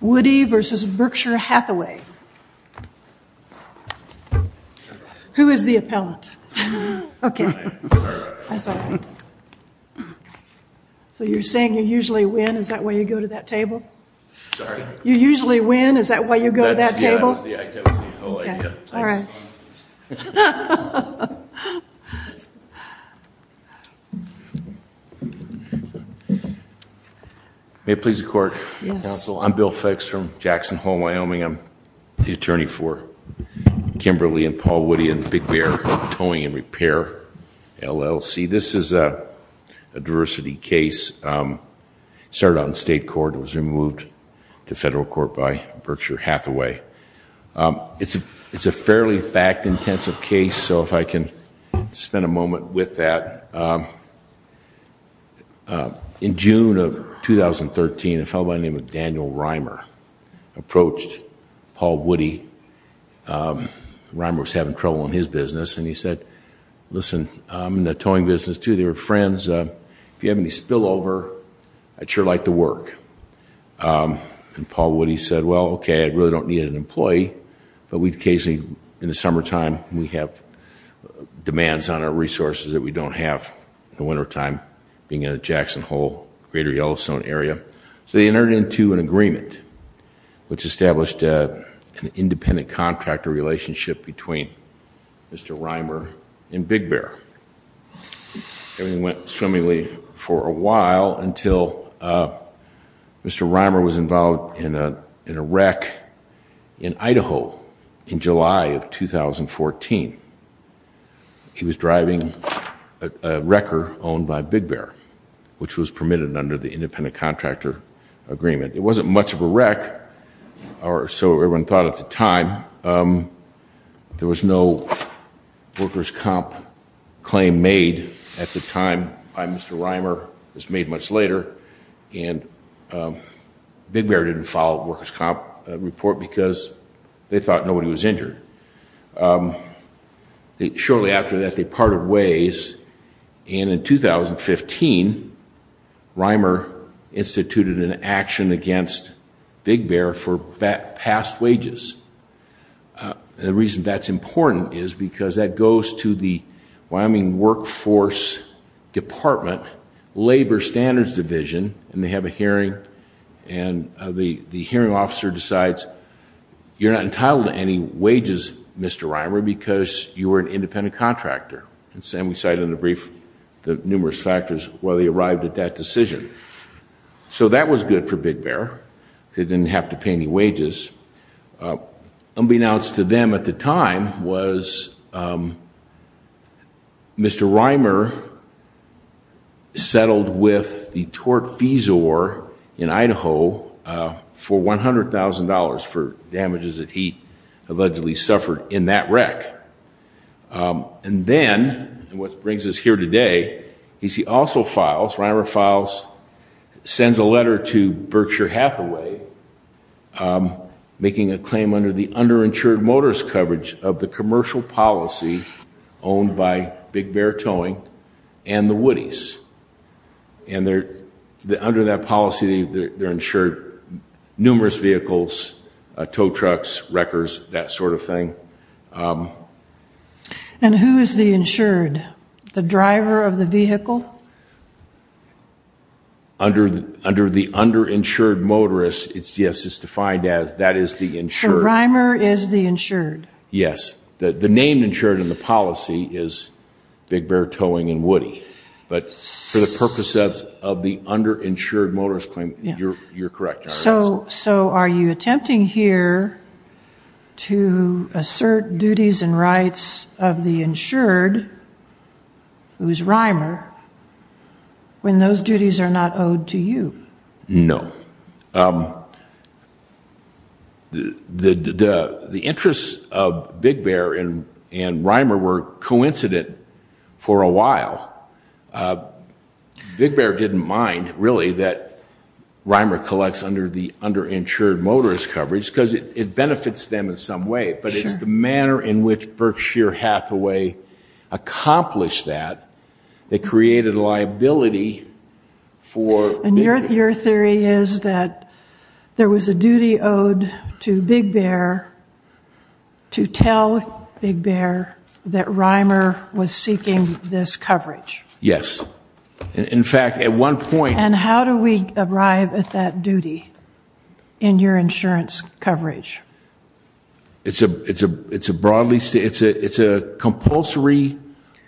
Woodie versus Berkshire Hathaway. Who is the appellant? Okay. So you're saying you usually win? Is that why you go to that table? You usually win? Is that why you go to that table? All right. May it please the court. Yes. I'm Bill Fix from Jackson Hole, Wyoming. I'm the attorney for Kimberly and Paul Woody and Big Bear Towing and Repair, LLC. This is a diversity case. It started out in state court. It was removed to federal court by Berkshire Hathaway. It's a fairly fact-intensive case, so if I can spend a moment with that. In June of 2013, a fellow by the name of Daniel Reimer approached Paul Woody. Reimer was having trouble in his business, and he said, listen, I'm in the towing business, too. They were friends. If you have any spillover, I'd sure like to work. And Paul Woody said, well, okay, I really don't need an employee, but we occasionally, in the summertime, we have demands on our resources that we don't have in the wintertime, being in a Jackson Hole, greater Yellowstone area. So they entered into an agreement, which established an independent contractor relationship between Mr. Reimer and Big Bear. Everything went swimmingly for a while until Mr. Reimer was involved in a wreck in Idaho in July of 2014. He was driving a wrecker owned by Big Bear, which was permitted under the independent contractor agreement. It wasn't much of a wreck, or so everyone thought at the time. There was no workers' comp claim made at the time by Mr. Reimer. It was made much later, and Big Bear didn't follow the workers' comp report because they thought nobody was injured. Shortly after that, they parted ways, and in 2015, Reimer instituted an action against Big Bear for past wages. The reason that's important is because that goes to the Wyoming Workforce Department Labor Standards Division, and they have a hearing, and the hearing officer decides, you're not entitled to any wages, Mr. Reimer, because you were an independent contractor. And Sam, we cited in the brief the numerous factors while they arrived at that decision. So that was good for Big Bear. They didn't have to pay any wages. Unbeknownst to them at the time was Mr. Reimer settled with the tort fees or in Idaho for $100,000 for damages that he allegedly suffered in that wreck. And then what brings us here today is he also files, Reimer files, sends a letter to Berkshire Hathaway. Making a claim under the underinsured motorist coverage of the commercial policy owned by Big Bear Towing and the Woodies. And under that policy, they're insured numerous vehicles, tow trucks, wreckers, that sort of thing. And who is the insured? The driver of the vehicle? Under the underinsured motorist, yes, it's defined as that is the insured. So Reimer is the insured? Yes. The name insured in the policy is Big Bear Towing and Woody. But for the purpose of the underinsured motorist claim, you're correct. So are you attempting here to assert duties and rights of the insured, who is Reimer, when those duties are not owed to you? No. The interests of Big Bear and Reimer were coincident for a while. Big Bear didn't mind, really, that Reimer collects under the underinsured motorist coverage because it benefits them in some way. But it's the manner in which Berkshire Hathaway accomplished that that created a liability for Big Bear. So your theory is that there was a duty owed to Big Bear to tell Big Bear that Reimer was seeking this coverage? Yes. In fact, at one point... And how do we arrive at that duty in your insurance coverage? It's a compulsory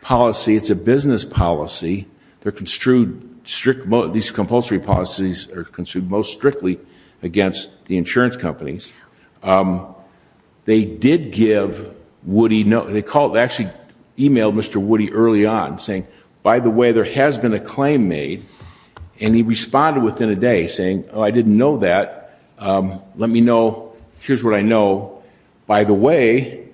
policy. It's a business policy. These compulsory policies are construed most strictly against the insurance companies. They did give Woody... They actually emailed Mr. Woody early on saying, By the way, there has been a claim made. And he responded within a day saying, Oh, I didn't know that. Let me know. Here's what I know. By the way,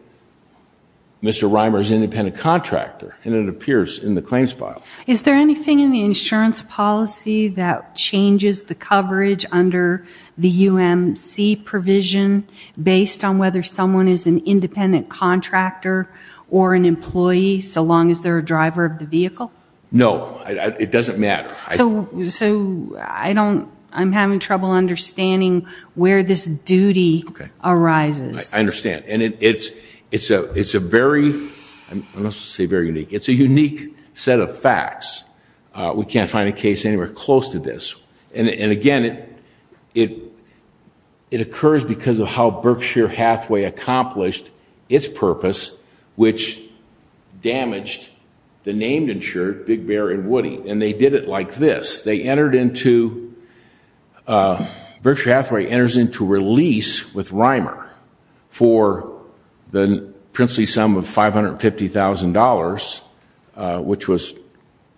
Mr. Reimer is an independent contractor. And it appears in the claims file. Is there anything in the insurance policy that changes the coverage under the UMC provision based on whether someone is an independent contractor or an employee, so long as they're a driver of the vehicle? No. It doesn't matter. So I don't... I'm having trouble understanding where this duty arises. I understand. And it's a very... I'm not supposed to say very unique. It's a unique set of facts. We can't find a case anywhere close to this. And again, it occurs because of how Berkshire Hathaway accomplished its purpose, which damaged the named insured, Big Bear and Woody. And they did it like this. They entered into... Berkshire Hathaway enters into release with Reimer for the princely sum of $550,000, which was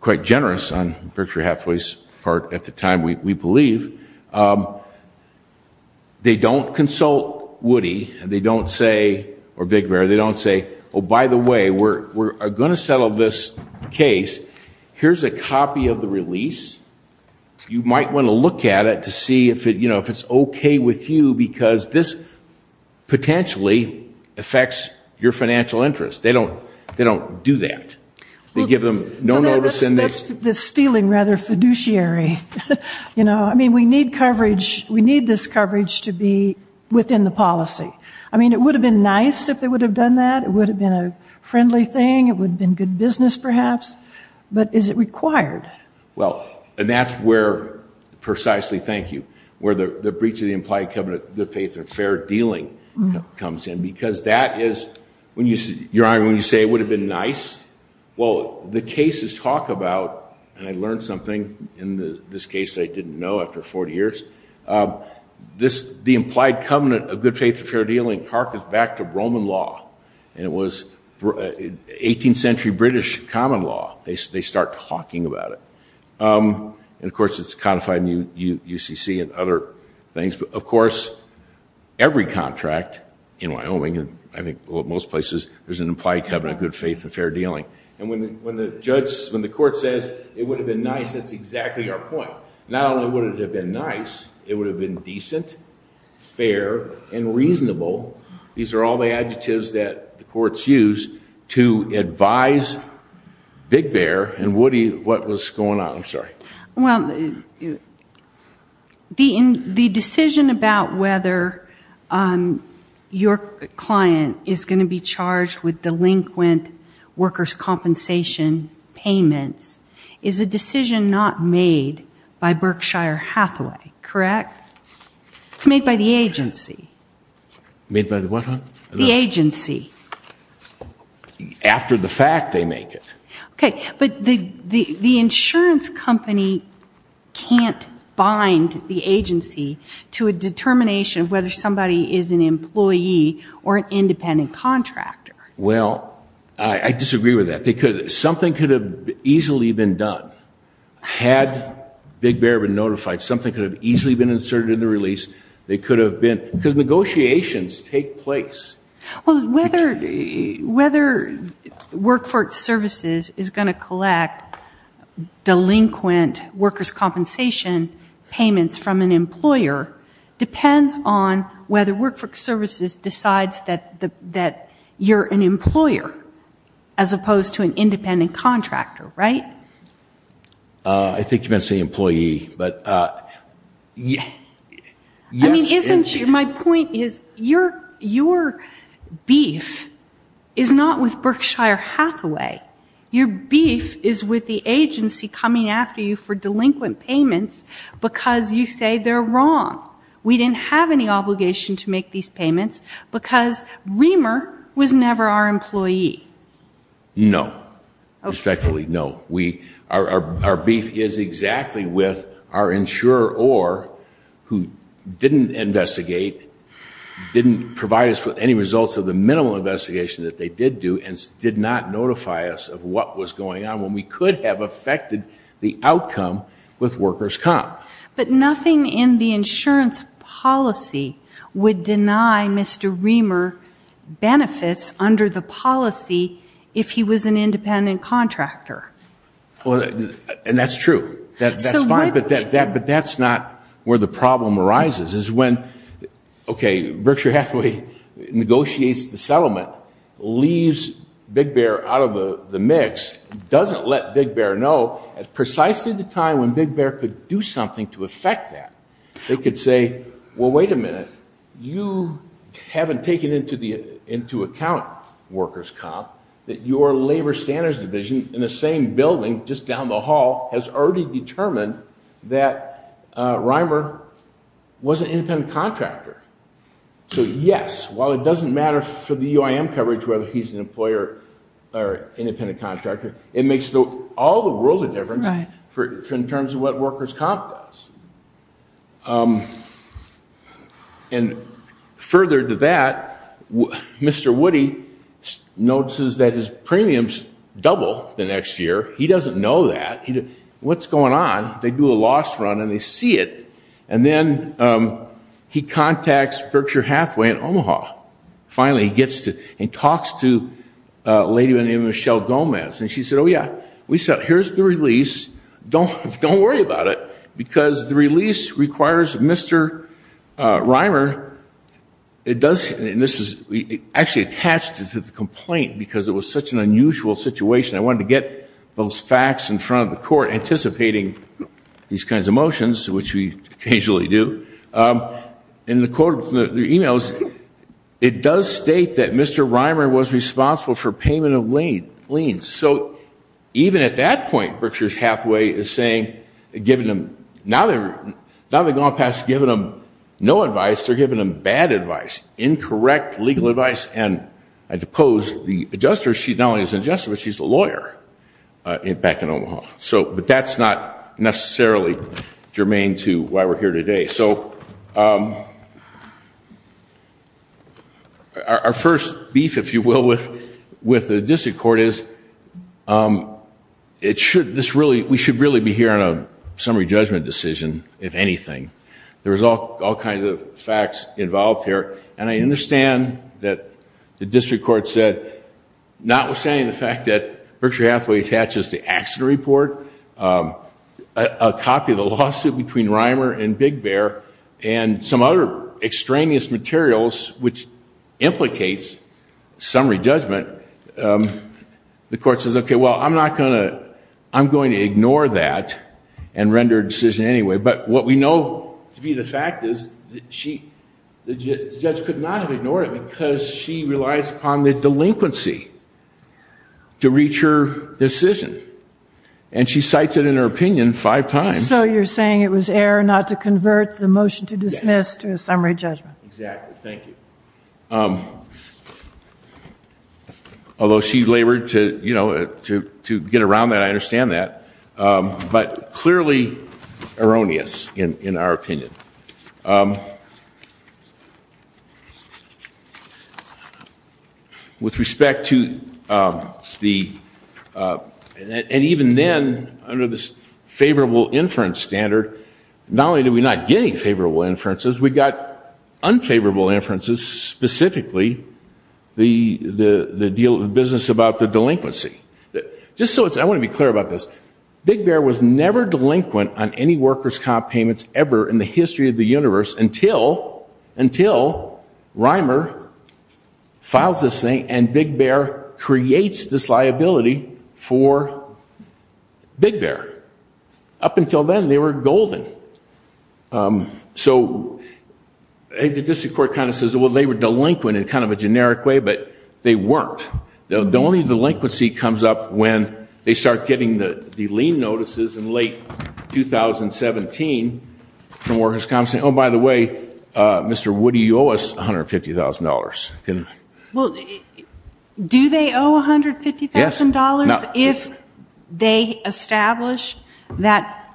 quite generous on Berkshire Hathaway's part at the time, we believe. They don't consult Woody. And they don't say, or Big Bear, they don't say, oh, by the way, we're going to settle this case. Here's a copy of the release. You might want to look at it to see if it's okay with you, because this potentially affects your financial interest. They don't do that. They give them no notice and they... That's the stealing, rather, fiduciary. I mean, we need coverage. We need this coverage to be within the policy. I mean, it would have been nice if they would have done that. It would have been a friendly thing. It would have been good business, perhaps. But is it required? Well, and that's where, precisely, thank you, where the breach of the implied covenant of good faith and fair dealing comes in, because that is, your Honor, when you say it would have been nice, well, the cases talk about, and I learned something in this case I didn't know after 40 years, the implied covenant of good faith and fair dealing harketh back to Roman law. And it was 18th century British common law. They start talking about it. And, of course, it's codified in UCC and other things. But, of course, every contract in Wyoming, and I think most places, there's an implied covenant of good faith and fair dealing. And when the judge, when the court says it would have been nice, that's exactly our point. Not only would it have been nice, it would have been decent, fair, and reasonable. These are all the adjectives that the courts use to advise Big Bear and Woody what was going on. I'm sorry. Well, the decision about whether your client is going to be charged with delinquent workers' compensation payments is a decision not made by Berkshire Hathaway, correct? It's made by the agency. Made by the what? The agency. After the fact, they make it. Okay, but the insurance company can't bind the agency to a determination of whether somebody is an employee or an independent contractor. Well, I disagree with that. Something could have easily been done. Had Big Bear been notified, something could have easily been inserted in the release. Because negotiations take place. Well, whether Workforce Services is going to collect delinquent workers' compensation payments from an employer depends on whether Workforce Services decides that you're an employer as opposed to an independent contractor, right? I think you meant to say employee, but yes. My point is your beef is not with Berkshire Hathaway. Your beef is with the agency coming after you for delinquent payments because you say they're wrong. We didn't have any obligation to make these payments because Reamer was never our employee. No, respectfully, no. Our beef is exactly with our insurer or who didn't investigate, didn't provide us with any results of the minimal investigation that they did do and did not notify us of what was going on when we could have affected the outcome with workers' comp. But nothing in the insurance policy would deny Mr. Reamer benefits under the policy if he was an independent contractor. And that's true. That's fine, but that's not where the problem arises. It's when Berkshire Hathaway negotiates the settlement, leaves Big Bear out of the mix, doesn't let Big Bear know at precisely the time when Big Bear could do something to affect that. They could say, well, wait a minute, you haven't taken into account workers' comp that your labor standards division in the same building just down the hall has already determined that Reamer was an independent contractor. So yes, while it doesn't matter for the UIM coverage whether he's an employer or independent contractor, it makes all the world of difference in terms of what workers' comp does. And further to that, Mr. Woody notices that his premiums double the next year. He doesn't know that. What's going on? They do a loss run and they see it. And then he contacts Berkshire Hathaway in Omaha. Finally, he talks to a lady by the name of Michelle Gomez. And she said, oh, yeah, here's the release. Don't worry about it. Because the release requires Mr. Reamer. And this is actually attached to the complaint because it was such an unusual situation. I wanted to get those facts in front of the court anticipating these kinds of motions, which we occasionally do. In the emails, it does state that Mr. Reamer was responsible for payment of liens. So even at that point, Berkshire Hathaway is saying, now they've gone past giving them no advice. They're giving them bad advice, incorrect legal advice. And I depose the adjuster. She not only is an adjuster, but she's a lawyer back in Omaha. But that's not necessarily germane to why we're here today. So our first beef, if you will, with the district court is we should really be hearing a summary judgment decision, if anything. There is all kinds of facts involved here. And I understand that the district court said, notwithstanding the fact that Berkshire Hathaway attaches the accident report, a copy of the lawsuit between Reamer and Big Bear, and some other extraneous materials which implicates summary judgment, the court says, OK, well, I'm going to ignore that and render a decision anyway. But what we know to be the fact is the judge could not have ignored it because she relies upon the delinquency to reach her decision. And she cites it in her opinion five times. So you're saying it was error not to convert the motion to dismiss to a summary judgment. Exactly. Thank you. Although she labored to get around that, I understand that. But clearly erroneous in our opinion. With respect to the, and even then, under this favorable inference standard, not only did we not get any favorable inferences, we got unfavorable inferences, specifically the deal of the business about the delinquency. Just so I want to be clear about this, Big Bear was never delinquent on any workers' comp payments ever in the history of the universe until Reimer files this thing and Big Bear creates this liability for Big Bear. Up until then, they were golden. So the district court kind of says, well, they were delinquent in kind of a generic way, but they weren't. The only delinquency comes up when they start getting the lien notices in late 2017 from workers' comps saying, oh, by the way, Mr. Woody, you owe us $150,000. Do they owe $150,000 if they establish that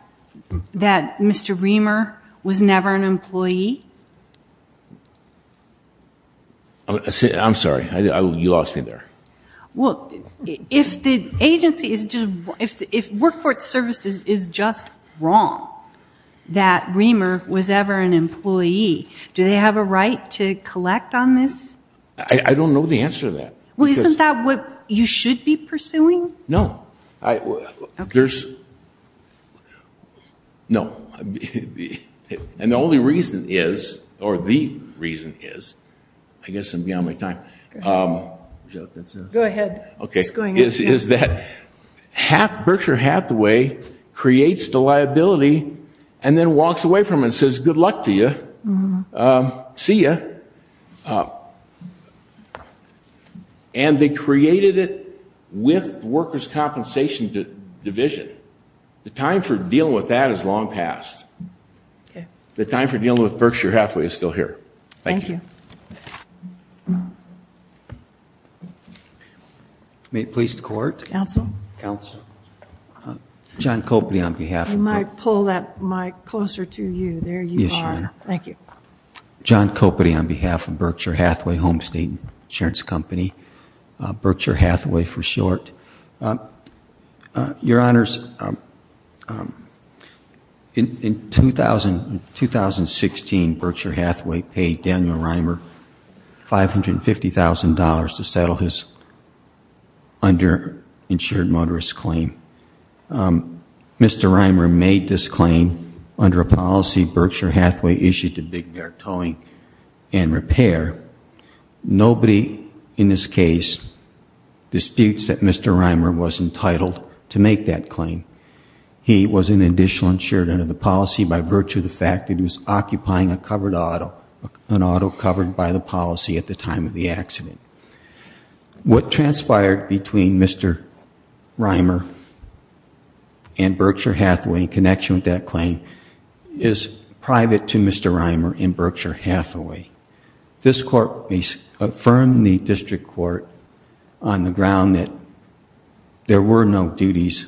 Mr. Reimer was never an employee? I'm sorry. You lost me there. Well, if the agency is just, if Workforce Services is just wrong that Reimer was ever an employee, do they have a right to collect on this? I don't know the answer to that. Well, isn't that what you should be pursuing? No. There's, no. And the only reason is, or the reason is, I guess I'm beyond my time. Go ahead. Okay. It's going up. Is that Berkshire Hathaway creates the liability and then walks away from it and says, good luck to you. See you. And they created it with workers' compensation division. The time for dealing with that is long past. The time for dealing with Berkshire Hathaway is still here. Thank you. May it please the Court? Counsel. John Kopety on behalf of Berkshire Hathaway. You might pull that mic closer to you. There you are. Yes, Your Honor. Thank you. John Kopety on behalf of Berkshire Hathaway Home State Insurance Company, Berkshire Hathaway for short. Your Honors, in 2016 Berkshire Hathaway paid Daniel Reimer $550,000 to settle his underinsured motorist claim. Mr. Reimer made this claim under a policy Berkshire Hathaway issued to Big Bear Towing and Repair. Nobody in this case disputes that Mr. Reimer was entitled to make that claim. He was an additional insured under the policy by virtue of the fact that he was occupying a covered auto, an auto covered by the policy at the time of the accident. What transpired between Mr. Reimer and Berkshire Hathaway in connection with that claim is private to Mr. Reimer and Berkshire Hathaway. This Court may affirm the District Court on the ground that there were no duties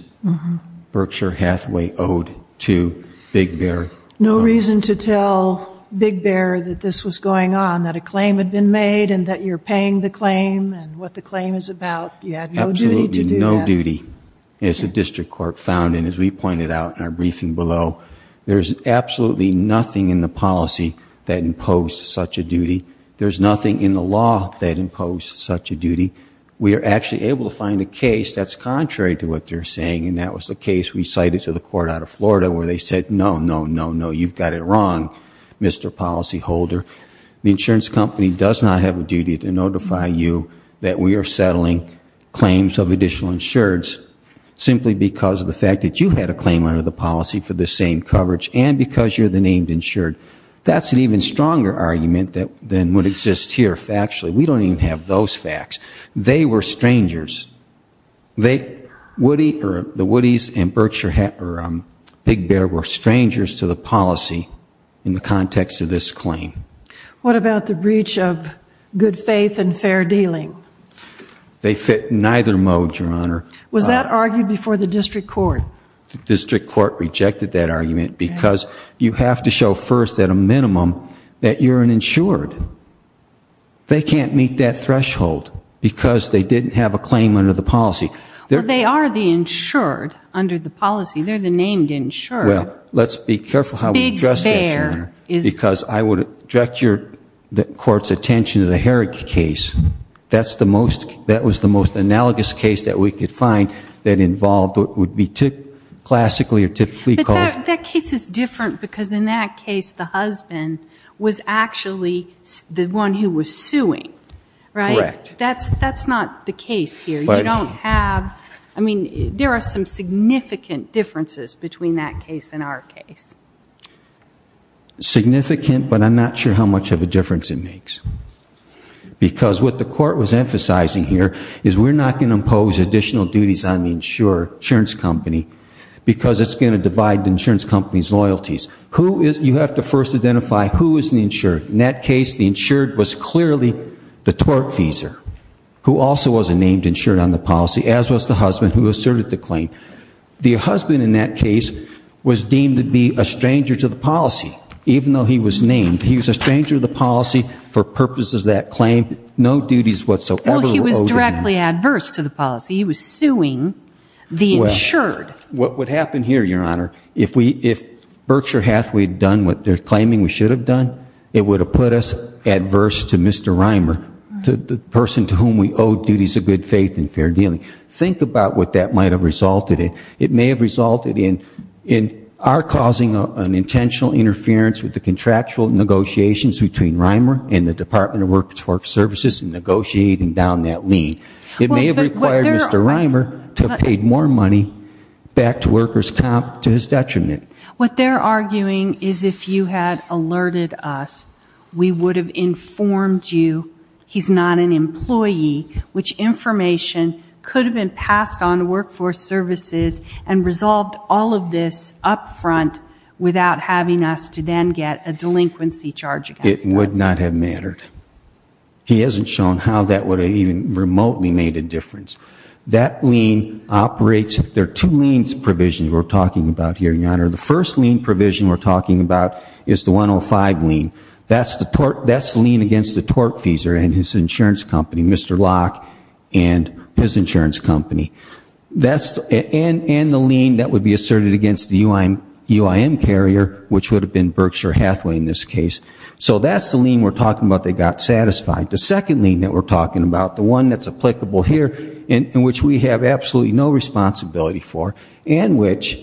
Berkshire Hathaway owed to Big Bear Towing. No reason to tell Big Bear that this was going on, that a claim had been made and that you're paying the claim and what the claim is about. You had no duty to do that. Absolutely no duty. As the District Court found and as we pointed out in our briefing below, there's absolutely nothing in the policy that imposed such a duty. There's nothing in the law that imposed such a duty. We are actually able to find a case that's contrary to what they're saying and that was the case we cited to the court out of Florida where they said no, no, no, no. You've got it wrong, Mr. Policy Holder. The insurance company does not have a duty to notify you that we are settling claims of additional insureds simply because of the fact that you had a claim under the policy for the same coverage and because you're the named insured. That's an even stronger argument than would exist here factually. We don't even have those facts. They were strangers. The Woodys and Big Bear were strangers to the policy in the context of this claim. What about the breach of good faith and fair dealing? They fit neither mode, Your Honor. Was that argued before the District Court? The District Court rejected that argument because you have to show first at a minimum that you're an insured. They can't meet that threshold because they didn't have a claim under the policy. They are the insured under the policy. They're the named insured. Well, let's be careful how we address that, Your Honor, because I would direct your court's attention to the Herrick case. That's the most, that was the most analogous case that we could find that involved what would be classically or typically called. That case is different because in that case the husband was actually the one who was suing, right? Correct. That's not the case here. You don't have, I mean, there are some significant differences between that case and our case. Significant, but I'm not sure how much of a difference it makes because what the court was emphasizing here is we're not going to impose additional duties on the insurance company because it's going to divide the insurance company's loyalties. Who is, you have to first identify who is the insured. In that case, the insured was clearly the tortfeasor, who also was a named insured on the policy, as was the husband who asserted the claim. The husband in that case was deemed to be a stranger to the policy, even though he was named. He was a stranger to the policy for purposes of that claim. No duties whatsoever were owed to him. He was directly adverse to the policy. He was suing the insured. Well, what would happen here, Your Honor, if Berkshire Hathaway had done what they're claiming we should have done, it would have put us adverse to Mr. Reimer, the person to whom we owe duties of good faith and fair dealing. Think about what that might have resulted in. It may have resulted in our causing an intentional interference with the contractual negotiations between Reimer and the Department of Workforce Services in negotiating down that lien. It may have required Mr. Reimer to have paid more money back to workers' comp to his detriment. What they're arguing is if you had alerted us, we would have informed you he's not an employee, which information could have been passed on to Workforce Services and resolved all of this up front without having us to then get a delinquency charge against us. It would not have mattered. He hasn't shown how that would have even remotely made a difference. That lien operates, there are two liens provisions we're talking about here, Your Honor. The first lien provision we're talking about is the 105 lien. That's the lien against the tortfeasor and his insurance company, Mr. Locke and his insurance company. And the lien that would be asserted against the UIM carrier, which would have been Berkshire Hathaway in this case. So that's the lien we're talking about that got satisfied. The second lien that we're talking about, the one that's applicable here and which we have absolutely no responsibility for and which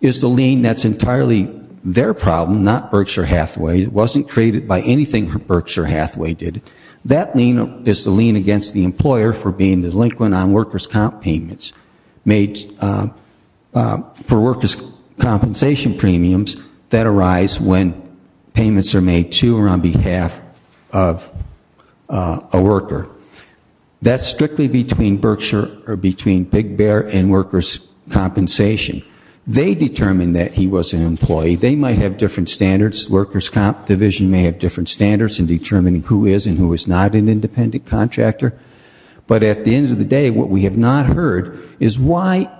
is the lien that's entirely their problem, not Berkshire Hathaway. It wasn't created by anything Berkshire Hathaway did. That lien is the lien against the employer for being delinquent on workers' comp payments made for workers' compensation premiums that arise when payments are made to or on behalf of a worker. That's strictly between Berkshire or between Big Bear and workers' compensation. They determined that he was an employee. They might have different standards. Workers' comp division may have different standards in determining who is and who is not an independent contractor. But at the end of the day, what we have not heard is why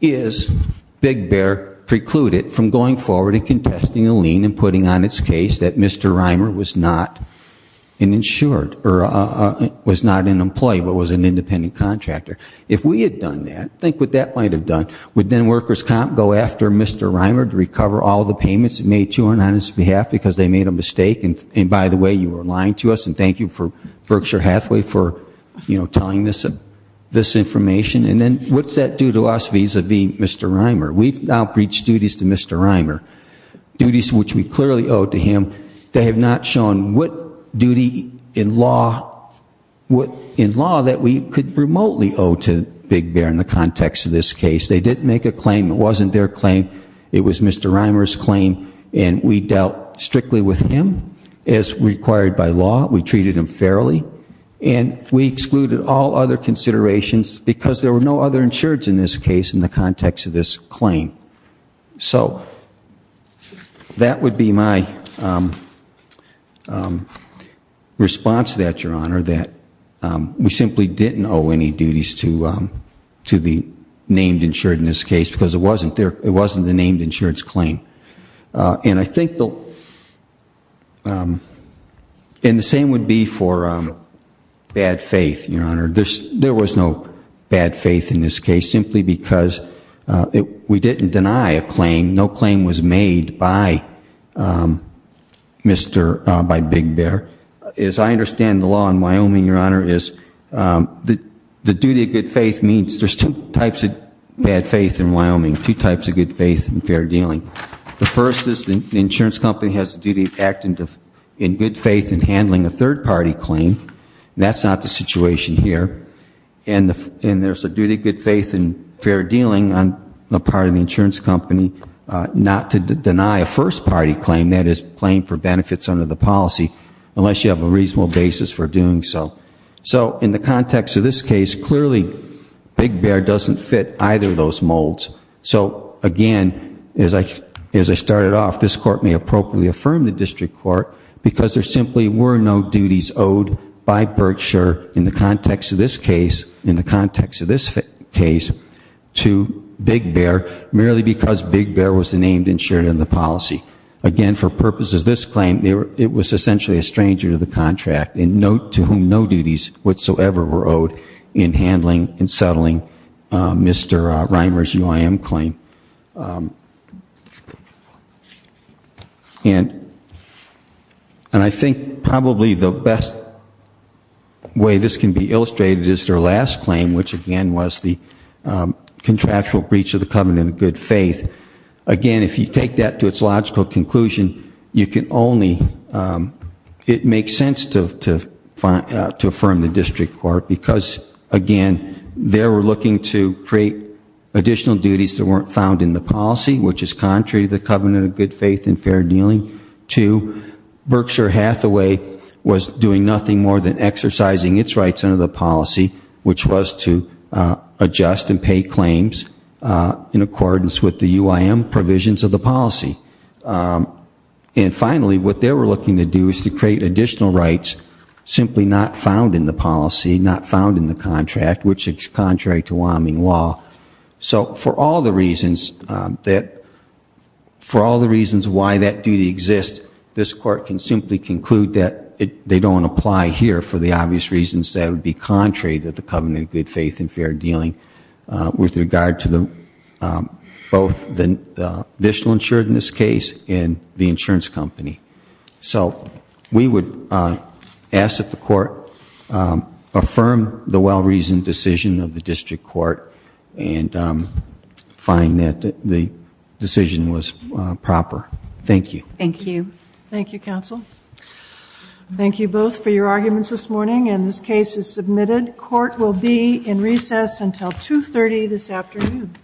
is Big Bear precluded from going forward and contesting a lien and putting on its case that Mr. Reimer was not an insured or was not an employee but was an independent contractor? If we had done that, think what that might have done. Would then workers' comp go after Mr. Reimer to recover all the payments made to or on his behalf because they made a mistake? And by the way, you were lying to us, and thank you for Berkshire Hathaway for telling this information. And then what's that do to us vis-a-vis Mr. Reimer? We've now breached duties to Mr. Reimer, duties which we clearly owe to him. They have not shown what duty in law that we could remotely owe to Big Bear in the context of this case. They did make a claim. It wasn't their claim. It was Mr. Reimer's claim, and we dealt strictly with him as required by law. We treated him fairly, and we excluded all other considerations because there were no other insureds in this case in the context of this claim. So that would be my response to that, Your Honor, that we simply didn't owe any duties to the named insured in this case because it wasn't the named insured's claim. And I think the same would be for bad faith, Your Honor. There was no bad faith in this case simply because we didn't deny a claim. No claim was made by Big Bear. I understand the law in Wyoming, Your Honor, is the duty of good faith means there's two types of bad faith in Wyoming, two types of good faith and fair dealing. The first is the insurance company has the duty of acting in good faith in handling a third-party claim. That's not the situation here. And there's a duty of good faith and fair dealing on the part of the insurance company not to deny a first-party claim, that is, claim for benefits under the policy, unless you have a reasonable basis for doing so. So in the context of this case, clearly Big Bear doesn't fit either of those molds. So, again, as I started off, this Court may appropriately affirm the district court because there simply were no duties owed by Berkshire in the context of this case to Big Bear merely because Big Bear was the named insured in the policy. Again, for purposes of this claim, it was essentially a stranger to the contract, to whom no duties whatsoever were owed in handling and settling Mr. Reimer's UIM claim. And I think probably the best way this can be illustrated is their last claim, which again was the contractual breach of the covenant of good faith. Again, if you take that to its logical conclusion, you can only, it makes sense to affirm the district court because, again, they were looking to create additional duties that weren't found in the policy, which is contrary to the covenant of good faith and fair dealing. Two, Berkshire Hathaway was doing nothing more than exercising its rights under the policy, which was to adjust and pay claims in accordance with the UIM provisions of the policy. And finally, what they were looking to do is to create additional rights simply not found in the policy, not found in the contract, which is contrary to Wyoming law. So for all the reasons that, for all the reasons why that duty exists, this court can simply conclude that they don't apply here for the obvious reasons that would be contrary to the covenant of good faith and fair dealing with regard to both the additional insurance case and the insurance company. So we would ask that the court affirm the well-reasoned decision of the district court and find that the decision was proper. Thank you. Thank you. Thank you, counsel. Thank you both for your arguments this morning, and this case is submitted. Court will be in recess until 2.30 this afternoon.